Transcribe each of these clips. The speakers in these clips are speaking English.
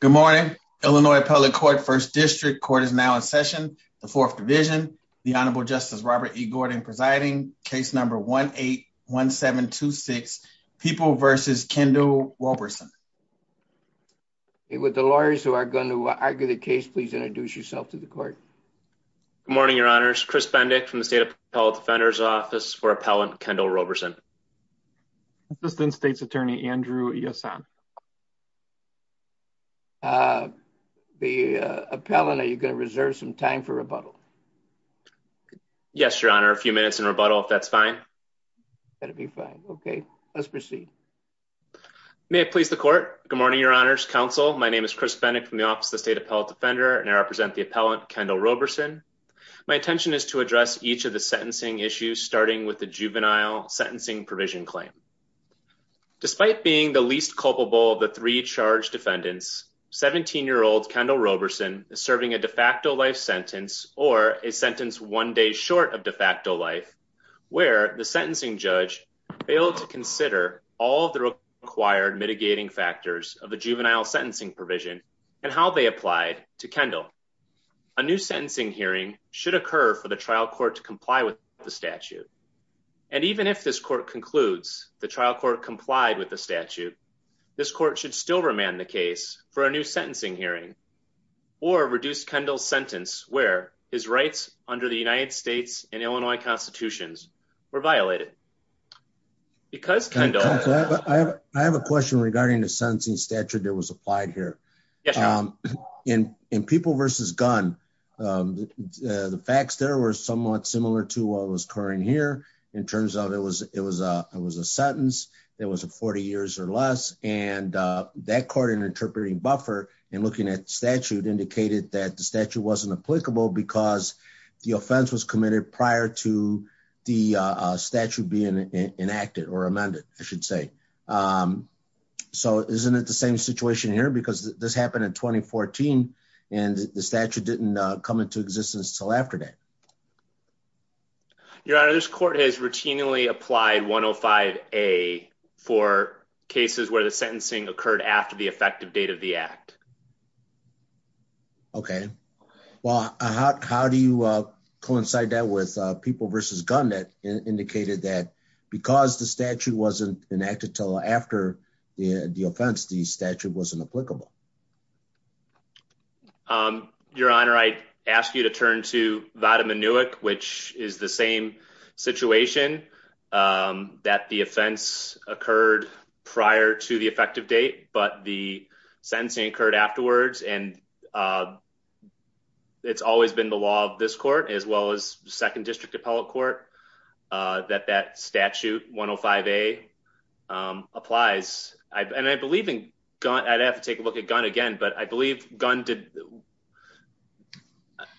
Good morning, Illinois Appellate Court, 1st District. Court is now in session. The Fourth Division, the Honorable Justice Robert E. Gordon presiding, case number 1-8-1726, People v. Kendall-Robertson. Would the lawyers who are going to argue the case please introduce yourself to the court. Good morning, Your Honors. Chris Bendick from the State Appellate Defender's Office for Appellant Kendall-Robertson. Assistant State's Attorney Andrew Iasson. The appellant, are you going to reserve some time for rebuttal? Yes, Your Honor. A few minutes in rebuttal, if that's fine. That'd be fine. Okay, let's proceed. May it please the court. Good morning, Your Honors. Counsel, my name is Chris Bendick from the Office of the State Appellate Defender, and I represent the appellant Kendall-Robertson. My intention is to address each of the sentencing issues, starting with the juvenile sentencing provision claim. Despite being the least culpable of the three charged defendants, 17-year-old Kendall-Robertson is serving a de facto life sentence or a sentence one day short of de facto life, where the sentencing judge failed to consider all of the required mitigating factors of the juvenile sentencing provision and how they applied to Kendall. A new sentencing hearing should occur for the trial court to comply with the statute. And even if this court concludes the trial court complied with the statute, this court should still remand the case for a new sentencing hearing or reduce Kendall's sentence where his rights under the United States and Illinois constitutions were violated. Because Kendall- I have a question regarding the sentencing statute that was applied here. Yes. In people versus gun, the facts there were somewhat similar to what was occurring here in terms of it was a sentence that was 40 years or less, and that court in interpreting buffer and looking at the statute indicated that the statute wasn't applicable because the offense was committed prior to the statute being enacted or amended, I should say. So isn't it the same situation here because this happened in 2014 and the statute didn't come into existence till after that? Your honor, this court has routinely applied 105A for cases where the sentencing occurred after the effective date of the act. Okay. Well, how do you coincide that with people versus gun that indicated that because the statute wasn't enacted till after the offense, the statute wasn't applicable? Your honor, I ask you to turn to Vada Minuik, which is the same situation that the offense occurred prior to the effective date, but the sentencing occurred afterwards. And it's always been the law of this court, as well as second district appellate court, that that statute 105A applies. And I believe in gun, I'd have to take a look at gun again, but I believe gun did.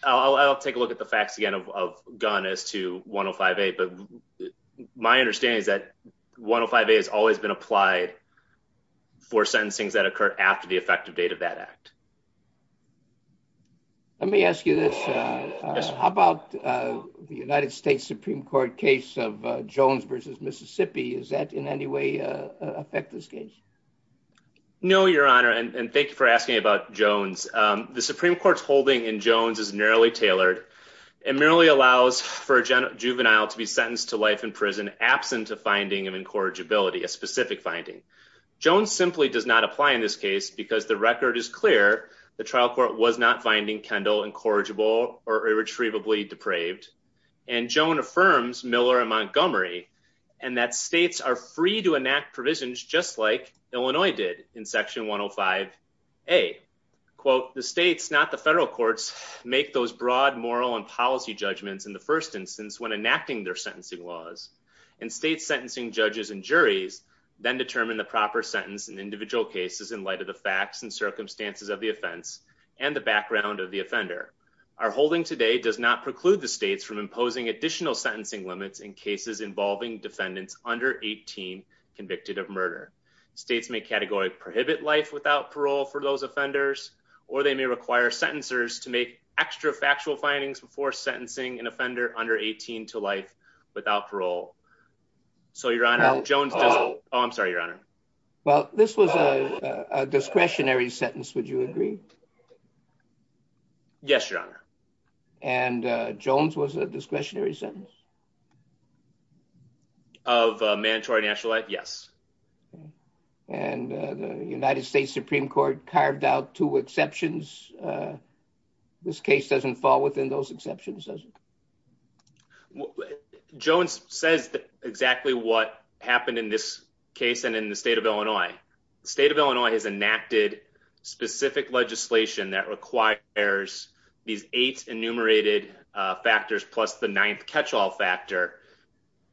I'll take a look at the facts again of gun as to 105A, but my understanding is that 105A has always been applied for sentencing that occurred after the effective date of that act. Let me ask you this. How about the United States Supreme Court case of Jones versus Mississippi? Is that in any way affect this case? No, your honor. And thank you for asking about Jones. The Supreme Court's holding in Jones is narrowly tailored and merely allows for a juvenile to be sentenced to life in prison absent of finding of incorrigibility, a specific finding. Jones simply does not apply in this case because the record is clear. The trial court was not finding Kendall incorrigible or irretrievably depraved. And Jones affirms Miller and Montgomery and that states are free to enact provisions just like Illinois did in section 105A. Quote, the states, not the federal courts, make those broad moral and policy judgments in the first instance when enacting their sentencing laws and state sentencing judges and juries then determine the proper sentence in individual cases in light of the facts and circumstances of the offense and the background of the offender. Our holding today does not preclude the states from imposing additional sentencing limits in cases involving defendants under 18 convicted of murder. States may category prohibit life without parole for those offenders, or they may require sentencers to make extra factual findings before sentencing an offender under 18 to life without parole. So your honor, Jones, oh I'm sorry your honor. Well this was a discretionary sentence, would you agree? Yes your honor. And Jones was a discretionary sentence? Of mandatory national life, yes. And the United States Supreme Court carved out two exceptions. This case doesn't fall within those exceptions, does it? Jones says exactly what happened in this case and in the state of Illinois. The state of Illinois has enacted specific legislation that requires these eight enumerated factors plus the ninth catch-all factor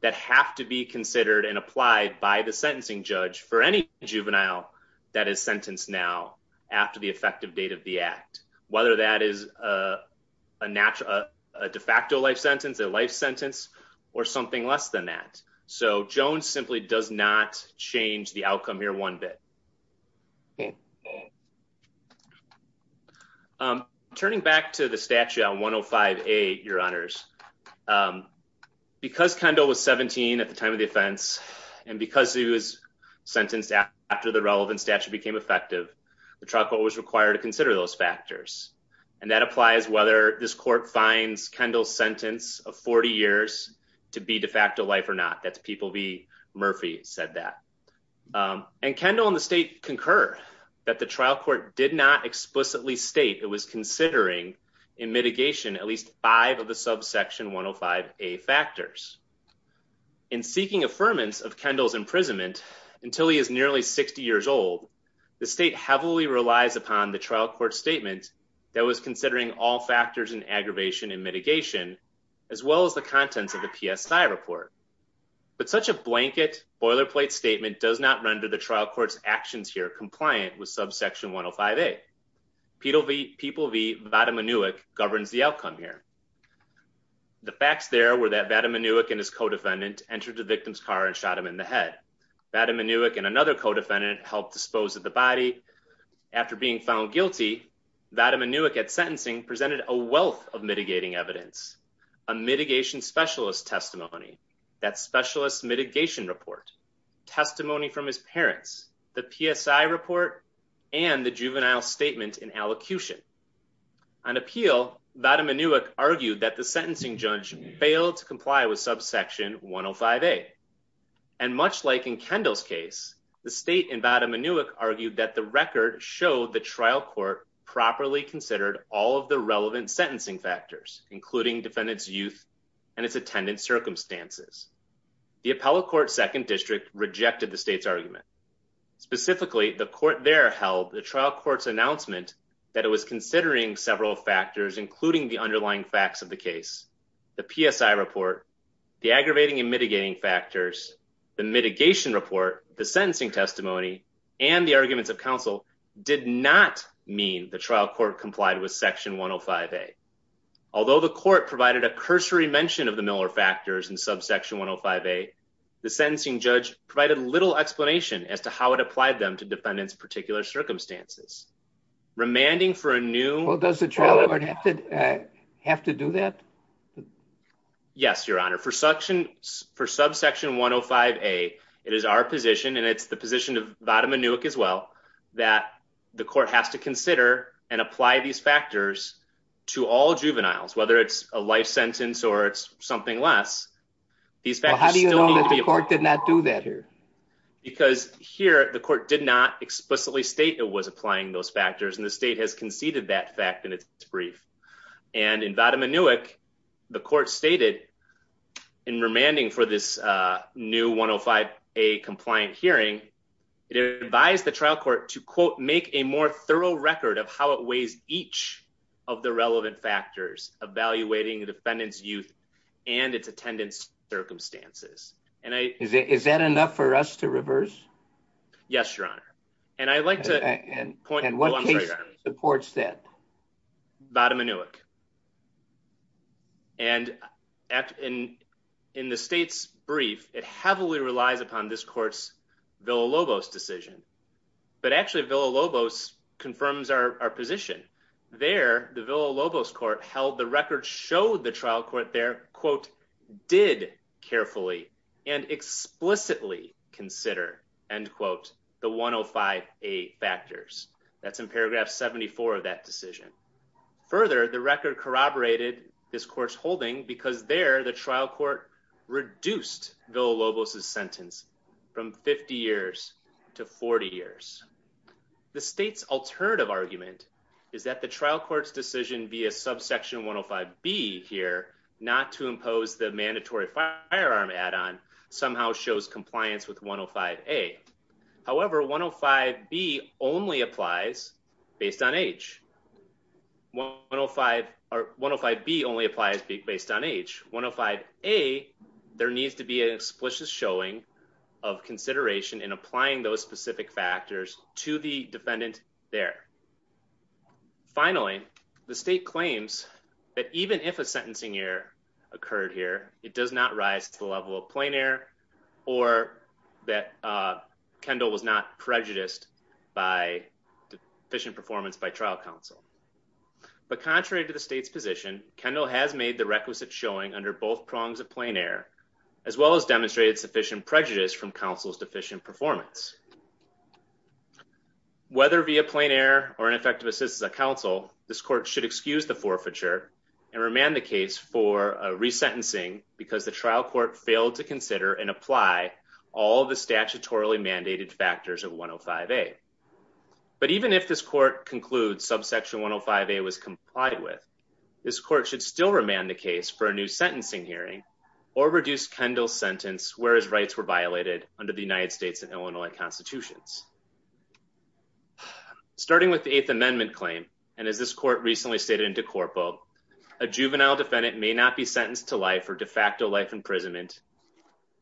that have to be considered and applied by the sentencing judge for any juvenile that is sentenced now after the effective date of the act. Whether that is a natural, a de facto life sentence, a life sentence, or something less than that. So Jones simply does not change the outcome here one bit. Turning back to the statute on 105A your honors, because Kendall was 17 at the time of the offense and because he was sentenced after the relevant statute became effective, the trial court was required to consider those factors. And that applies whether this court finds Kendall's sentence of 40 years to be de facto life or not. That's people be Murphy said that. And Kendall and the state concur that the trial court did not explicitly state it was considering in mitigation at least five of the subsection 105A factors. In seeking affirmance of Kendall's imprisonment until he is nearly 60 years old, the state heavily relies upon the trial court statement that was considering all factors in aggravation and mitigation as well as the contents of the PSI report. But such a blanket boilerplate statement does not render the trial court's actions here compliant with subsection 105A. People v. Vadim Anuik governs the outcome here. The facts there were that Vadim Anuik and his co-defendant entered the victim's car and shot him in the head. Vadim Anuik and another co-defendant helped dispose of the body. After being found guilty, Vadim Anuik at sentencing presented a wealth of mitigating evidence, a mitigation specialist testimony, that specialist mitigation report, testimony from his parents, the PSI report, and the juvenile statement in allocution. On appeal, Vadim Anuik argued that the sentencing judge failed to comply with subsection 105A. And much like in Kendall's case, the state and Vadim Anuik argued that the record showed the trial court properly considered all of the relevant sentencing factors, including defendant's youth and its attendant circumstances. The appellate court's second district rejected the state's argument. Specifically, the court there held the trial court's announcement that it was considering several factors, including the underlying facts of the case. The PSI report, the aggravating and mitigating factors, the mitigation report, the sentencing testimony, and the arguments of counsel did not mean the trial court complied with section 105A. Although the court provided a cursory mention of the Miller factors and subsection 105A, the sentencing judge provided little explanation as to how it applied them to defendant's particular circumstances. Remanding for a new... Well, does the trial court have to do that? Yes, your honor. For subsection 105A, it is our position, and it's the position of Vadim Anuik as well, that the court has to consider and apply these factors to all juveniles, whether it's a life sentence or it's something less. How do you know that the court did not do that here? Because here, the court did not explicitly state it was applying those factors, and the state has conceded that fact in its brief. And in Vadim Anuik, the court stated in remanding for this new 105A compliant hearing, it advised the trial court to, quote, make a more thorough record of how it weighs each of the relevant factors evaluating the defendant's youth and its attendance circumstances. And I... Is that enough for us to reverse? Yes, your honor. And I'd like to... And what case supports that? Vadim Anuik. And in the state's brief, it heavily relies upon this position. There, the Villa-Lobos court held the record showed the trial court there, quote, did carefully and explicitly consider, end quote, the 105A factors. That's in paragraph 74 of that decision. Further, the record corroborated this court's holding because there, the trial court reduced Villa-Lobos's sentence from 50 years to 40 years. The state's alternative argument is that the trial court's decision via subsection 105B here not to impose the mandatory firearm add-on somehow shows compliance with 105A. However, 105B only applies based on age. 105B only applies based on age. 105A, there needs to be an explicit showing of consideration in applying those specific factors to the defendant there. Finally, the state claims that even if a sentencing error occurred here, it does not rise to the level of counsel. But contrary to the state's position, Kendall has made the requisite showing under both prongs of plain error, as well as demonstrated sufficient prejudice from counsel's deficient performance. Whether via plain error or ineffective assistance of counsel, this court should excuse the forfeiture and remand the case for a resentencing because the trial court failed to consider and apply all of the statutorily mandated factors of 105A. But even if this concludes subsection 105A was complied with, this court should still remand the case for a new sentencing hearing or reduce Kendall's sentence where his rights were violated under the United States and Illinois constitutions. Starting with the Eighth Amendment claim, and as this court recently stated in De Corpo, a juvenile defendant may not be sentenced to life or de facto life imprisonment,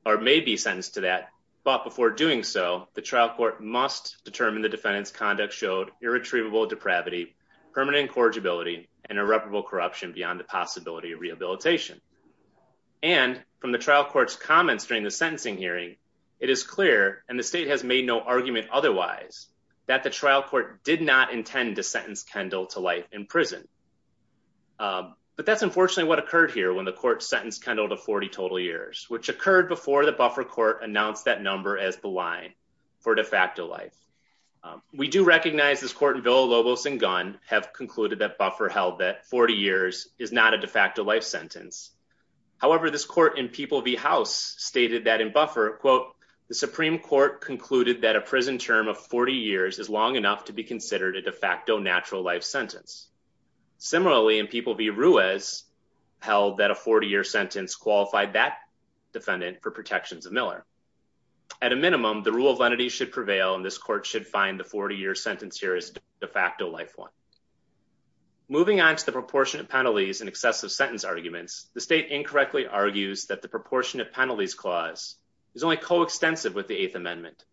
or may be sentenced to that, but before doing so, the trial court must determine the defendant's conduct showed irretrievable depravity, permanent incorrigibility, and irreparable corruption beyond the possibility of rehabilitation. And from the trial court's comments during the sentencing hearing, it is clear, and the state has made no argument otherwise, that the trial court did not intend to sentence Kendall to life in prison. But that's unfortunately what occurred here when the court sentenced Kendall to 40 total years, which occurred before the buffer court announced that number as the line for de facto life. We do recognize this court in Villa-Lobos and Gunn have concluded that buffer held that 40 years is not a de facto life sentence. However, this court in People v. House stated that in buffer, quote, the Supreme Court concluded that a prison term of 40 years is long enough to be considered a de facto natural life sentence. Similarly, in People v. Ruiz held that a 40-year sentence qualified that defendant for protections of Miller. At a minimum, the rule of lenity should prevail, and this court should find the 40-year sentence here as a de facto life one. Moving on to the proportionate penalties and excessive sentence arguments, the state incorrectly argues that the proportionate penalties clause is only coextensive with the Eighth Amendment.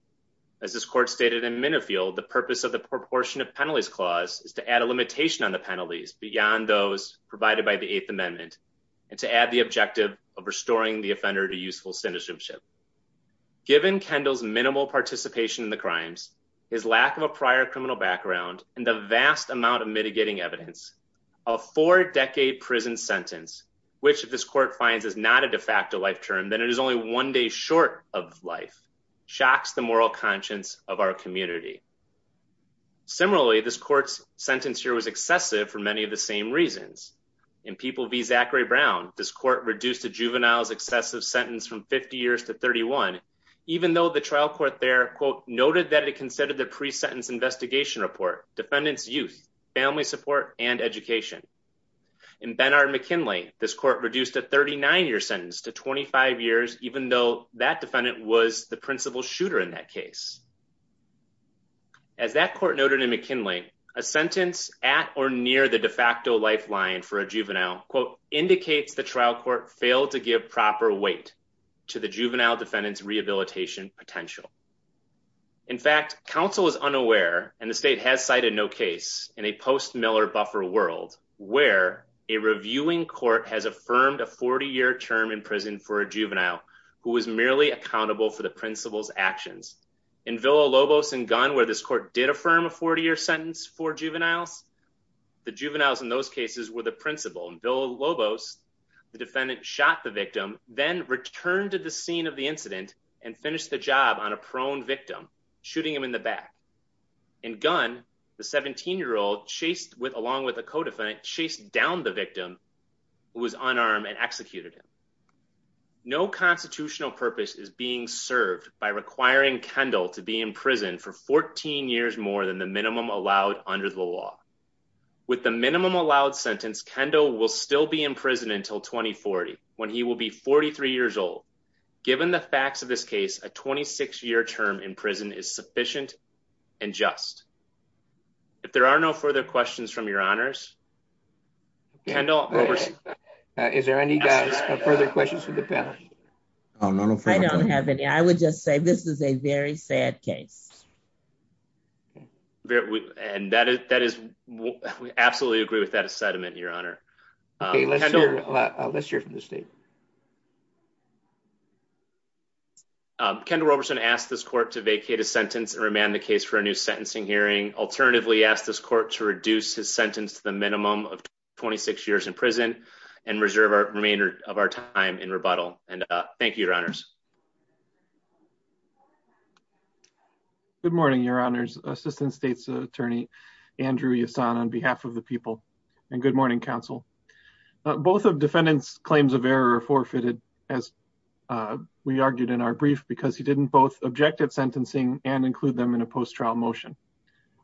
As this court stated in Minifield, the purpose of the proportionate penalties clause is to add a limitation on the penalties beyond those provided by the Eighth Amendment, and to add the objective of restoring the offender to useful citizenship. Given Kendall's minimal participation in the crimes, his lack of a prior criminal background, and the vast amount of mitigating evidence, a four-decade prison sentence, which this court finds is not a de facto life term, then it is only one day short of life, shocks the moral conscience of our community. Similarly, this court's sentence here was excessive for many of the same reasons. In People v. Zachary Brown, this court reduced a juvenile's excessive sentence from 50 years to 31, even though the trial court there, quote, noted that it considered the pre-sentence investigation report, defendant's youth, family support, and education. In Benard-McKinley, this court reduced a 39-year sentence to 25 years, even though that defendant was the principal shooter in that case. As that court noted in McKinley, a sentence at or near the de facto lifeline for a juvenile, quote, indicates the trial court failed to give proper weight to the juvenile defendant's rehabilitation potential. In fact, counsel is unaware, and the state has cited no case, in a post-Miller buffer world, where a reviewing court has affirmed a 40-year term in prison for a juvenile who was merely accountable for the principal's actions. In Villa-Lobos and Gunn, where this court did affirm a 40-year sentence for juveniles, the juveniles in those cases were the principal. In Villa-Lobos, the defendant shot the victim, then returned to the scene of the incident and finished the job on a prone victim, shooting him in the back. In Gunn, the 17-year-old chased with, along with a co-defendant, chased down the victim who was unarmed and executed him. No constitutional purpose is being served by requiring Kendall to be in prison for 14 years more than the minimum allowed under the law. With the minimum allowed sentence, Kendall will still be in prison until 2040, when he will be 43 years old. Given the facts of this case, a 26-year term in prison is sufficient and just. If there are no further questions from your honors, Kendall. Is there any further questions for the panel? I don't have any. I would just say this is a very sad case. And that is, we absolutely agree with that sentiment, your honor. Let's hear from the state. Kendall Roberson asked this court to vacate his sentence and remand the case for a new sentencing hearing. Alternatively, asked this court to reduce his sentence to the minimum of 26 years in prison and reserve our remainder of our time in rebuttal. And thank you, your honors. Good morning, your honors. Assistant States Attorney Andrew Yasson on behalf of the people and good morning, counsel. Both of defendants' claims of error are forfeited, as we argued in our brief, because he didn't both object at sentencing and include them in a post-trial motion.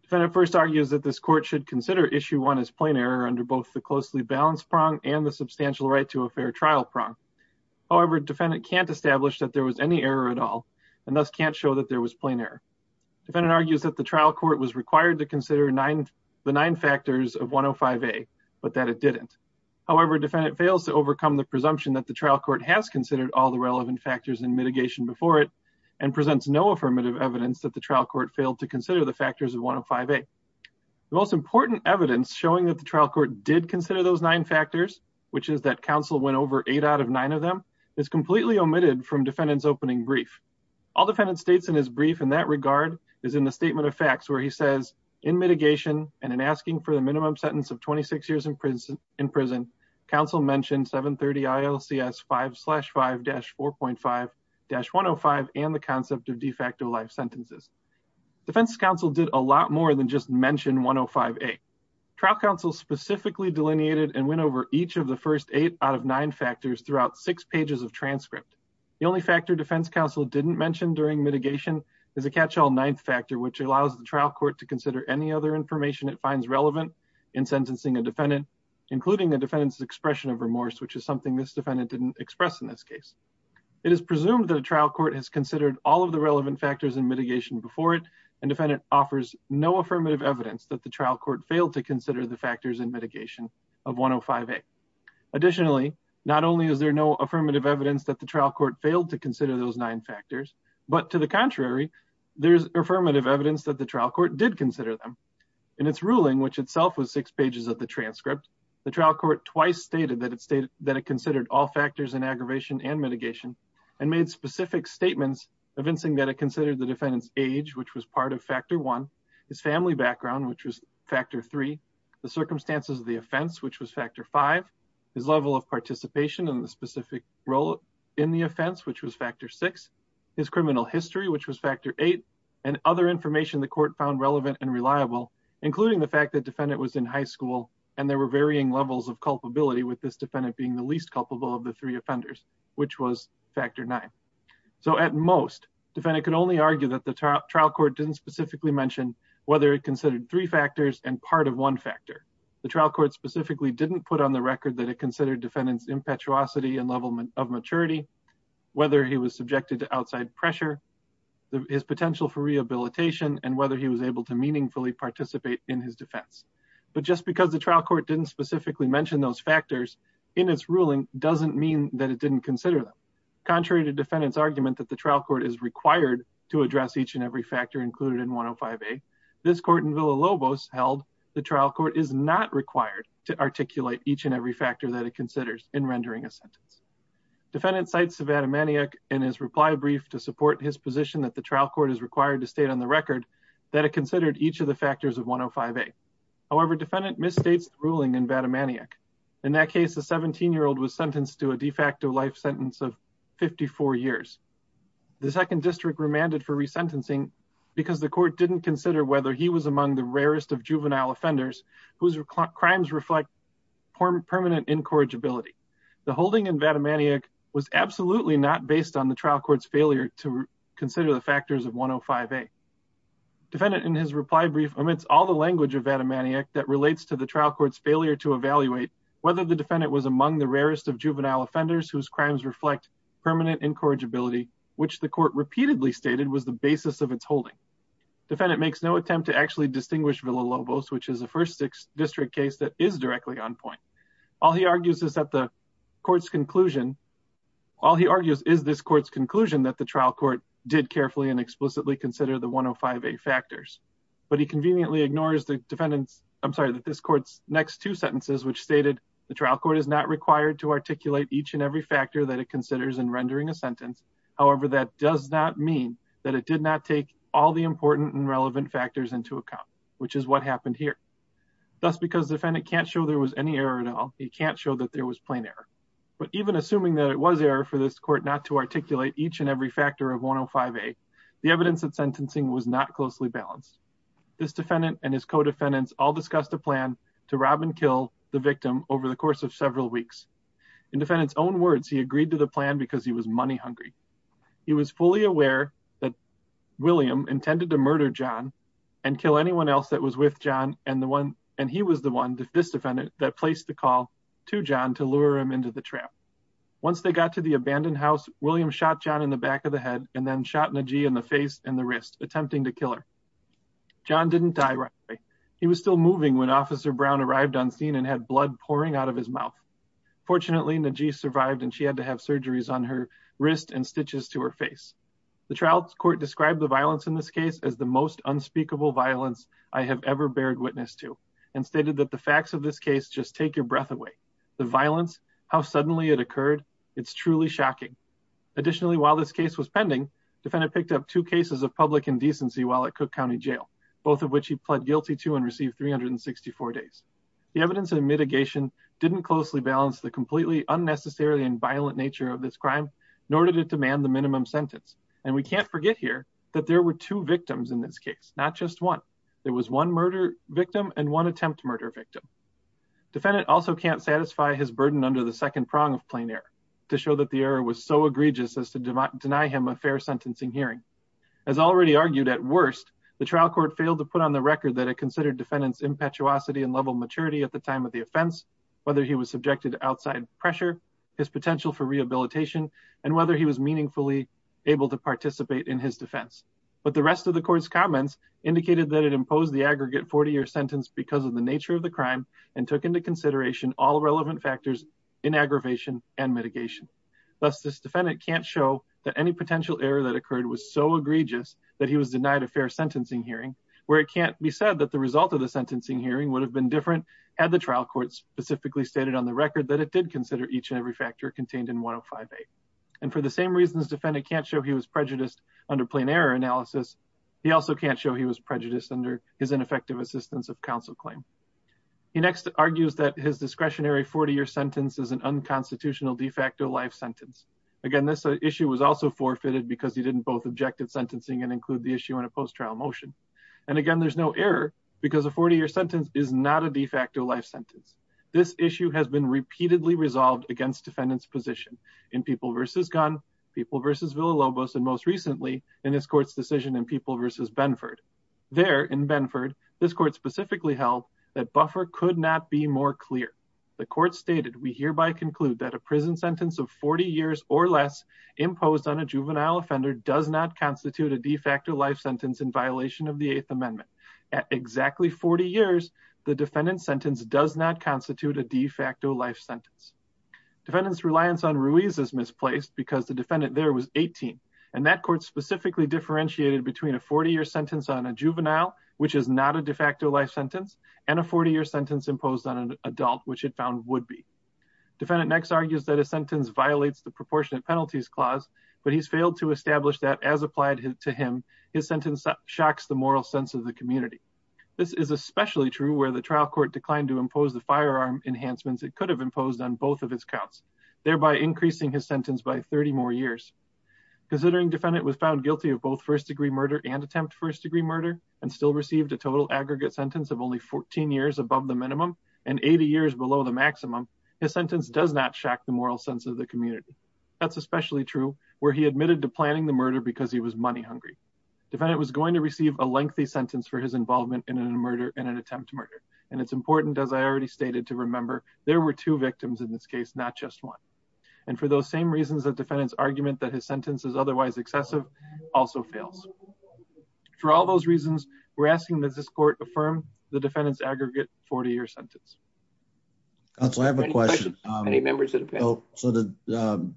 Defendant first argues that this court should consider issue one as plain error under both the closely balanced prong and the substantial right to a fair trial prong. However, defendant can't establish that there was any error at all and thus can't show that there was plain error. Defendant argues that the trial court was required to consider the nine factors of 105A, but that it didn't. However, defendant fails to overcome the presumption that the trial court has considered all the relevant factors in mitigation before it and presents no affirmative evidence that the trial court failed to consider the factors of 105A. The most important evidence showing that the trial court did consider those nine factors, which is that counsel went over eight out of nine of them, is completely omitted from defendant's opening brief. All defendant states in his brief in that regard is in the statement of facts where he says, in mitigation and in asking for the minimum sentence of 26 years in prison, counsel mentioned 730 ILCS 5-5-4.5-105 and the concept of de facto life sentences. Defense counsel did a lot more than just mention 105A. Trial counsel specifically delineated and went over each of the first eight out of nine factors throughout six pages of transcript. The only factor defense counsel didn't mention during mitigation is a catch-all ninth factor, which allows the trial court to consider any other information it finds relevant in sentencing a defendant, including the defendant's expression of remorse, which is something this defendant didn't express in this case. It is presumed that a trial court has considered all of the relevant factors in mitigation before offers no affirmative evidence that the trial court failed to consider the factors in mitigation of 105A. Additionally, not only is there no affirmative evidence that the trial court failed to consider those nine factors, but to the contrary, there's affirmative evidence that the trial court did consider them. In its ruling, which itself was six pages of the transcript, the trial court twice stated that it considered all factors in aggravation and mitigation and made specific statements evincing that it considered the defendant's age, which was part of factor one, his family background, which was factor three, the circumstances of the offense, which was factor five, his level of participation in the specific role in the offense, which was factor six, his criminal history, which was factor eight, and other information the court found relevant and reliable, including the fact that defendant was in high school and there were varying levels of culpability with this defendant being the least culpable of the three offenders, which was factor nine. So at most, defendant could only argue that the trial court didn't specifically mention whether it considered three factors and part of one factor. The trial court specifically didn't put on the record that it considered defendant's impetuosity and level of maturity, whether he was subjected to outside pressure, his potential for rehabilitation, and whether he was able to meaningfully participate in his defense. But just because the trial court didn't specifically mention those factors in its ruling doesn't mean that it didn't consider them. Contrary to defendant's argument that the trial court is required to address each and every factor included in 105A, this court in Villa-Lobos held the trial court is not required to articulate each and every factor that it considers in rendering a sentence. Defendant cites Vatimaniac in his reply brief to support his position that the trial court is required to state on the record that it considered each of the factors of 105A. However, defendant misstates the ruling in Vatimaniac. In that case, a 17-year-old was sentenced to de facto life sentence of 54 years. The second district remanded for resentencing because the court didn't consider whether he was among the rarest of juvenile offenders whose crimes reflect permanent incorrigibility. The holding in Vatimaniac was absolutely not based on the trial court's failure to consider the factors of 105A. Defendant in his reply brief omits all the language of Vatimaniac that relates to the trial court's failure to evaluate whether the defendant was among the rarest of juvenile offenders whose crimes reflect permanent incorrigibility, which the court repeatedly stated was the basis of its holding. Defendant makes no attempt to actually distinguish Villa-Lobos, which is a first district case that is directly on point. All he argues is that the court's conclusion, all he argues is this court's conclusion that the trial court did carefully and explicitly consider the 105A factors. But he conveniently ignores the defendant's, I'm stated the trial court is not required to articulate each and every factor that it considers in rendering a sentence. However, that does not mean that it did not take all the important and relevant factors into account, which is what happened here. Thus because defendant can't show there was any error at all, he can't show that there was plain error. But even assuming that it was error for this court not to articulate each and every factor of 105A, the evidence of sentencing was not closely balanced. This defendant and his co-defendants all discussed a plan to rob and kill the victim over the course of several weeks. In defendant's own words, he agreed to the plan because he was money hungry. He was fully aware that William intended to murder John and kill anyone else that was with John and the one, and he was the one, this defendant that placed the call to John to lure him into the trap. Once they got to the abandoned house, William shot John in the back of the head and then shot Najee in the face and the wrist, attempting to kill her. John didn't die right away. He was still moving when officer Brown arrived on scene and had blood pouring out of his mouth. Fortunately, Najee survived and she had to have surgeries on her wrist and stitches to her face. The trial court described the violence in this case as the most unspeakable violence I have ever bared witness to and stated that the facts of this case just take your breath away. The violence, how suddenly it occurred, it's truly shocking. Additionally, while this case was pending, defendant picked up two cases of public indecency while at Cook Jail, both of which he pled guilty to and received 364 days. The evidence and mitigation didn't closely balance the completely unnecessary and violent nature of this crime, nor did it demand the minimum sentence. And we can't forget here that there were two victims in this case, not just one. There was one murder victim and one attempt murder victim. Defendant also can't satisfy his burden under the second prong of plain error to show that the error was so egregious as to deny him a fair sentencing hearing. As already argued at worst, the trial court failed to put on the record that it considered defendant's impetuosity and level maturity at the time of the offense, whether he was subjected to outside pressure, his potential for rehabilitation, and whether he was meaningfully able to participate in his defense. But the rest of the court's comments indicated that it imposed the aggregate 40-year sentence because of the nature of the crime and took into consideration all relevant factors in aggravation and mitigation. Thus, this defendant can't show that any potential error that occurred was so egregious that he was denied a fair sentencing hearing, where it can't be said that the result of the sentencing hearing would have been different had the trial court specifically stated on the record that it did consider each and every factor contained in 105A. And for the same reasons defendant can't show he was prejudiced under plain error analysis, he also can't show he was prejudiced under his ineffective assistance of counsel claim. He next argues that his discretionary 40-year sentence is an unconstitutional de facto life sentence. Again, this issue was also forfeited because he didn't both objective sentencing and include the issue in a post-trial motion. And again, there's no error because a 40-year sentence is not a de facto life sentence. This issue has been repeatedly resolved against defendant's position in People v. Gunn, People v. Villalobos, and most recently in this court's decision in People v. Benford. There in Benford, this court specifically held that buffer could not be more clear. The court stated, we hereby conclude that a prison sentence of 40 years or less imposed on a juvenile offender does not constitute a de facto life sentence in violation of the Eighth Amendment. At exactly 40 years, the defendant's sentence does not constitute a de facto life sentence. Defendant's reliance on Ruiz is misplaced because the defendant there was which is not a de facto life sentence and a 40-year sentence imposed on an adult, which it found would be. Defendant next argues that a sentence violates the proportionate penalties clause, but he's failed to establish that as applied to him, his sentence shocks the moral sense of the community. This is especially true where the trial court declined to impose the firearm enhancements it could have imposed on both of his counts, thereby increasing his sentence by 30 more years. Considering defendant was found guilty of both first degree murder and attempt and still received a total aggregate sentence of only 14 years above the minimum and 80 years below the maximum, his sentence does not shock the moral sense of the community. That's especially true where he admitted to planning the murder because he was money hungry. Defendant was going to receive a lengthy sentence for his involvement in an attempt to murder, and it's important, as I already stated, to remember there were two victims in this case, not just one. And for those same reasons, the defendant's argument that his sentence is for all those reasons, we're asking that this court affirm the defendant's aggregate 40 year sentence. So I have a question. So the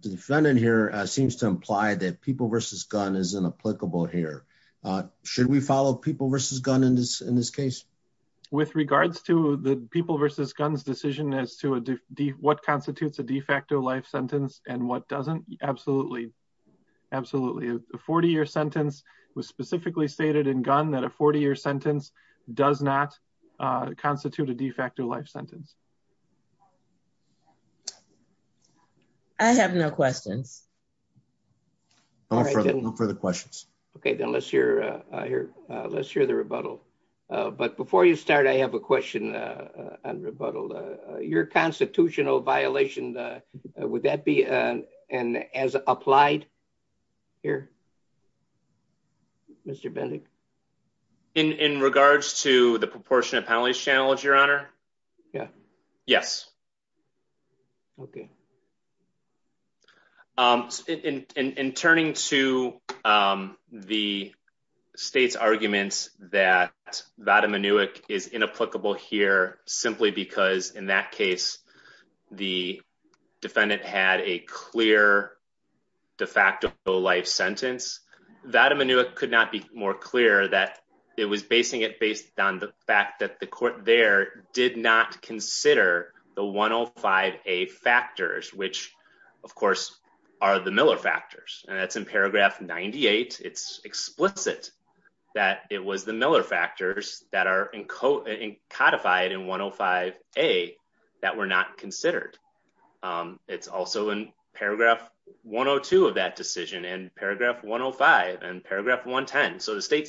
defendant here seems to imply that people versus gun is inapplicable here. Should we follow people versus gun in this case? With regards to the people versus guns decision as to what constitutes a de facto life sentence and what doesn't, absolutely. Absolutely. A 40 year sentence was specifically stated in gun that a 40 year sentence does not constitute a de facto life sentence. I have no questions. No further questions. Okay, then let's hear the rebuttal. But before you start, I have a question on rebuttal. Your constitutional violation, would that be an as applied here? Mr. Bendick? In regards to the proportionate penalties challenge, Your Honor? Yeah. Yes. Okay. In turning to the state's arguments that Vada Minuik is inapplicable here, simply because in that case, the defendant had a clear de facto life sentence. Vada Minuik could not be more clear that it was basing it based on the fact that the court there did not consider the 105A factors, which, of course, are the Miller factors. And that's in paragraph 98. It's explicit that it was the Miller factors that are codified in 105A that were not considered. It's also in paragraph 102 of that decision and paragraph 105 and paragraph 110. So the state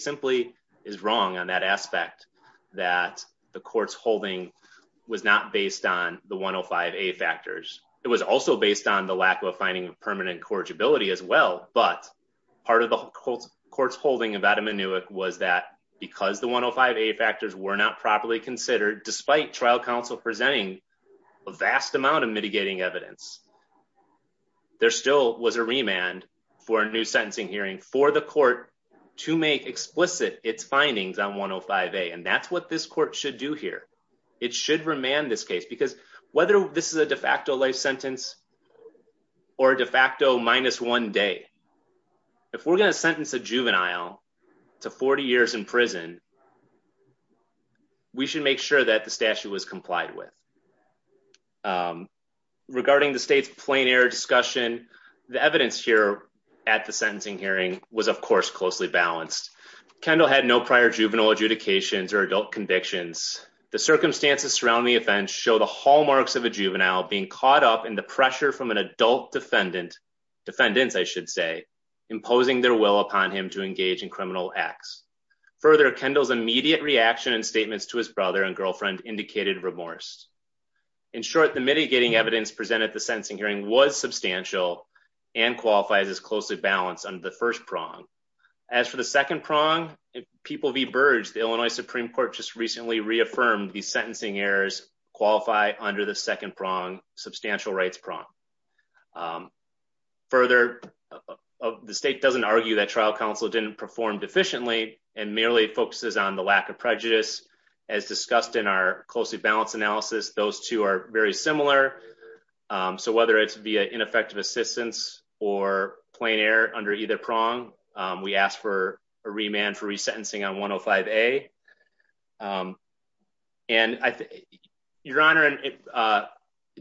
is wrong on that aspect that the court's holding was not based on the 105A factors. It was also based on the lack of a finding of permanent corrigibility as well. But part of the court's holding of Vada Minuik was that because the 105A factors were not properly considered, despite trial counsel presenting a vast amount of mitigating evidence, there still was a remand for a new sentencing hearing for the court to make explicit its findings on 105A. And that's what this court should do here. It should remand this case, because whether this is a de facto life sentence or a de facto minus one day, if we're going to sentence a juvenile to 40 years in prison, we should make sure that the statute was complied with. Regarding the state's plain discussion, the evidence here at the sentencing hearing was, of course, closely balanced. Kendall had no prior juvenile adjudications or adult convictions. The circumstances surrounding the offense show the hallmarks of a juvenile being caught up in the pressure from an adult defendant, defendants, I should say, imposing their will upon him to engage in criminal acts. Further, Kendall's immediate reaction and statements to his brother and girlfriend indicated remorse. In short, the mitigating evidence presented at the sentencing hearing was substantial and qualifies as closely balanced under the first prong. As for the second prong, People v. Burge, the Illinois Supreme Court just recently reaffirmed the sentencing errors qualify under the second prong, substantial rights prong. Further, the state doesn't argue that trial counsel didn't perform deficiently and merely focuses on the lack of prejudice, as discussed in our closely balanced analysis. Those two are very similar, so whether it's via ineffective assistance or plain error under either prong, we ask for a remand for resentencing on 105A. Your Honor,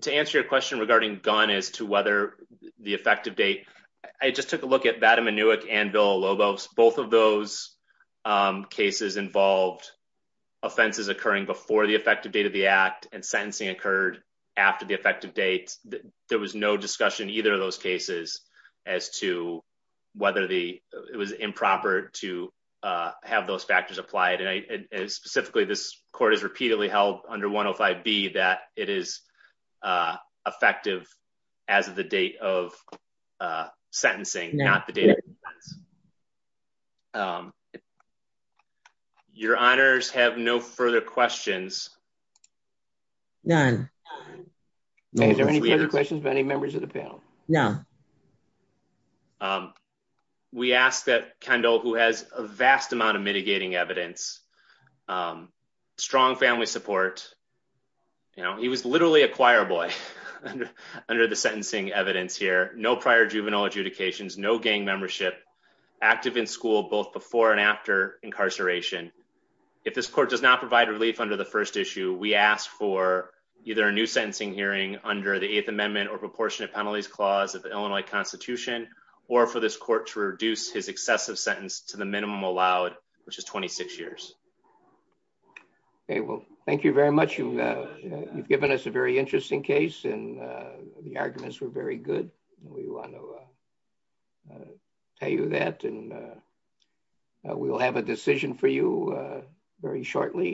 to answer your question regarding Gunn as to whether the effective date, I just took a look at Vadim Inouye and Bill Olobos. Both of those cases involved offenses occurring before the effective date of the act and sentencing occurred after the effective date. There was no discussion in either of those cases as to whether it was improper to have those factors applied. Specifically, this court has repeatedly held under 105B that it is effective as of the date of sentencing, not the date of offense. Your Honors, have no further questions? None. Is there any further questions by any members of the panel? No. We ask that Kendall, who has a vast amount of mitigating evidence, strong family support, you know, he was literally a choir boy under the sentencing evidence here, no prior juvenile adjudications, no gang membership, active in school both before and after incarceration. If this court does not provide relief under the first issue, we ask for either a new sentencing hearing under the Eighth Amendment or Proportionate Penalties Clause of the Illinois Constitution or for this court to reduce his excessive sentence to the minimum allowed, which is 26 years. Okay, well, thank you very much. You've given us a very interesting case, and the arguments were very good. We want to tell you that, and we'll have a decision for you very shortly.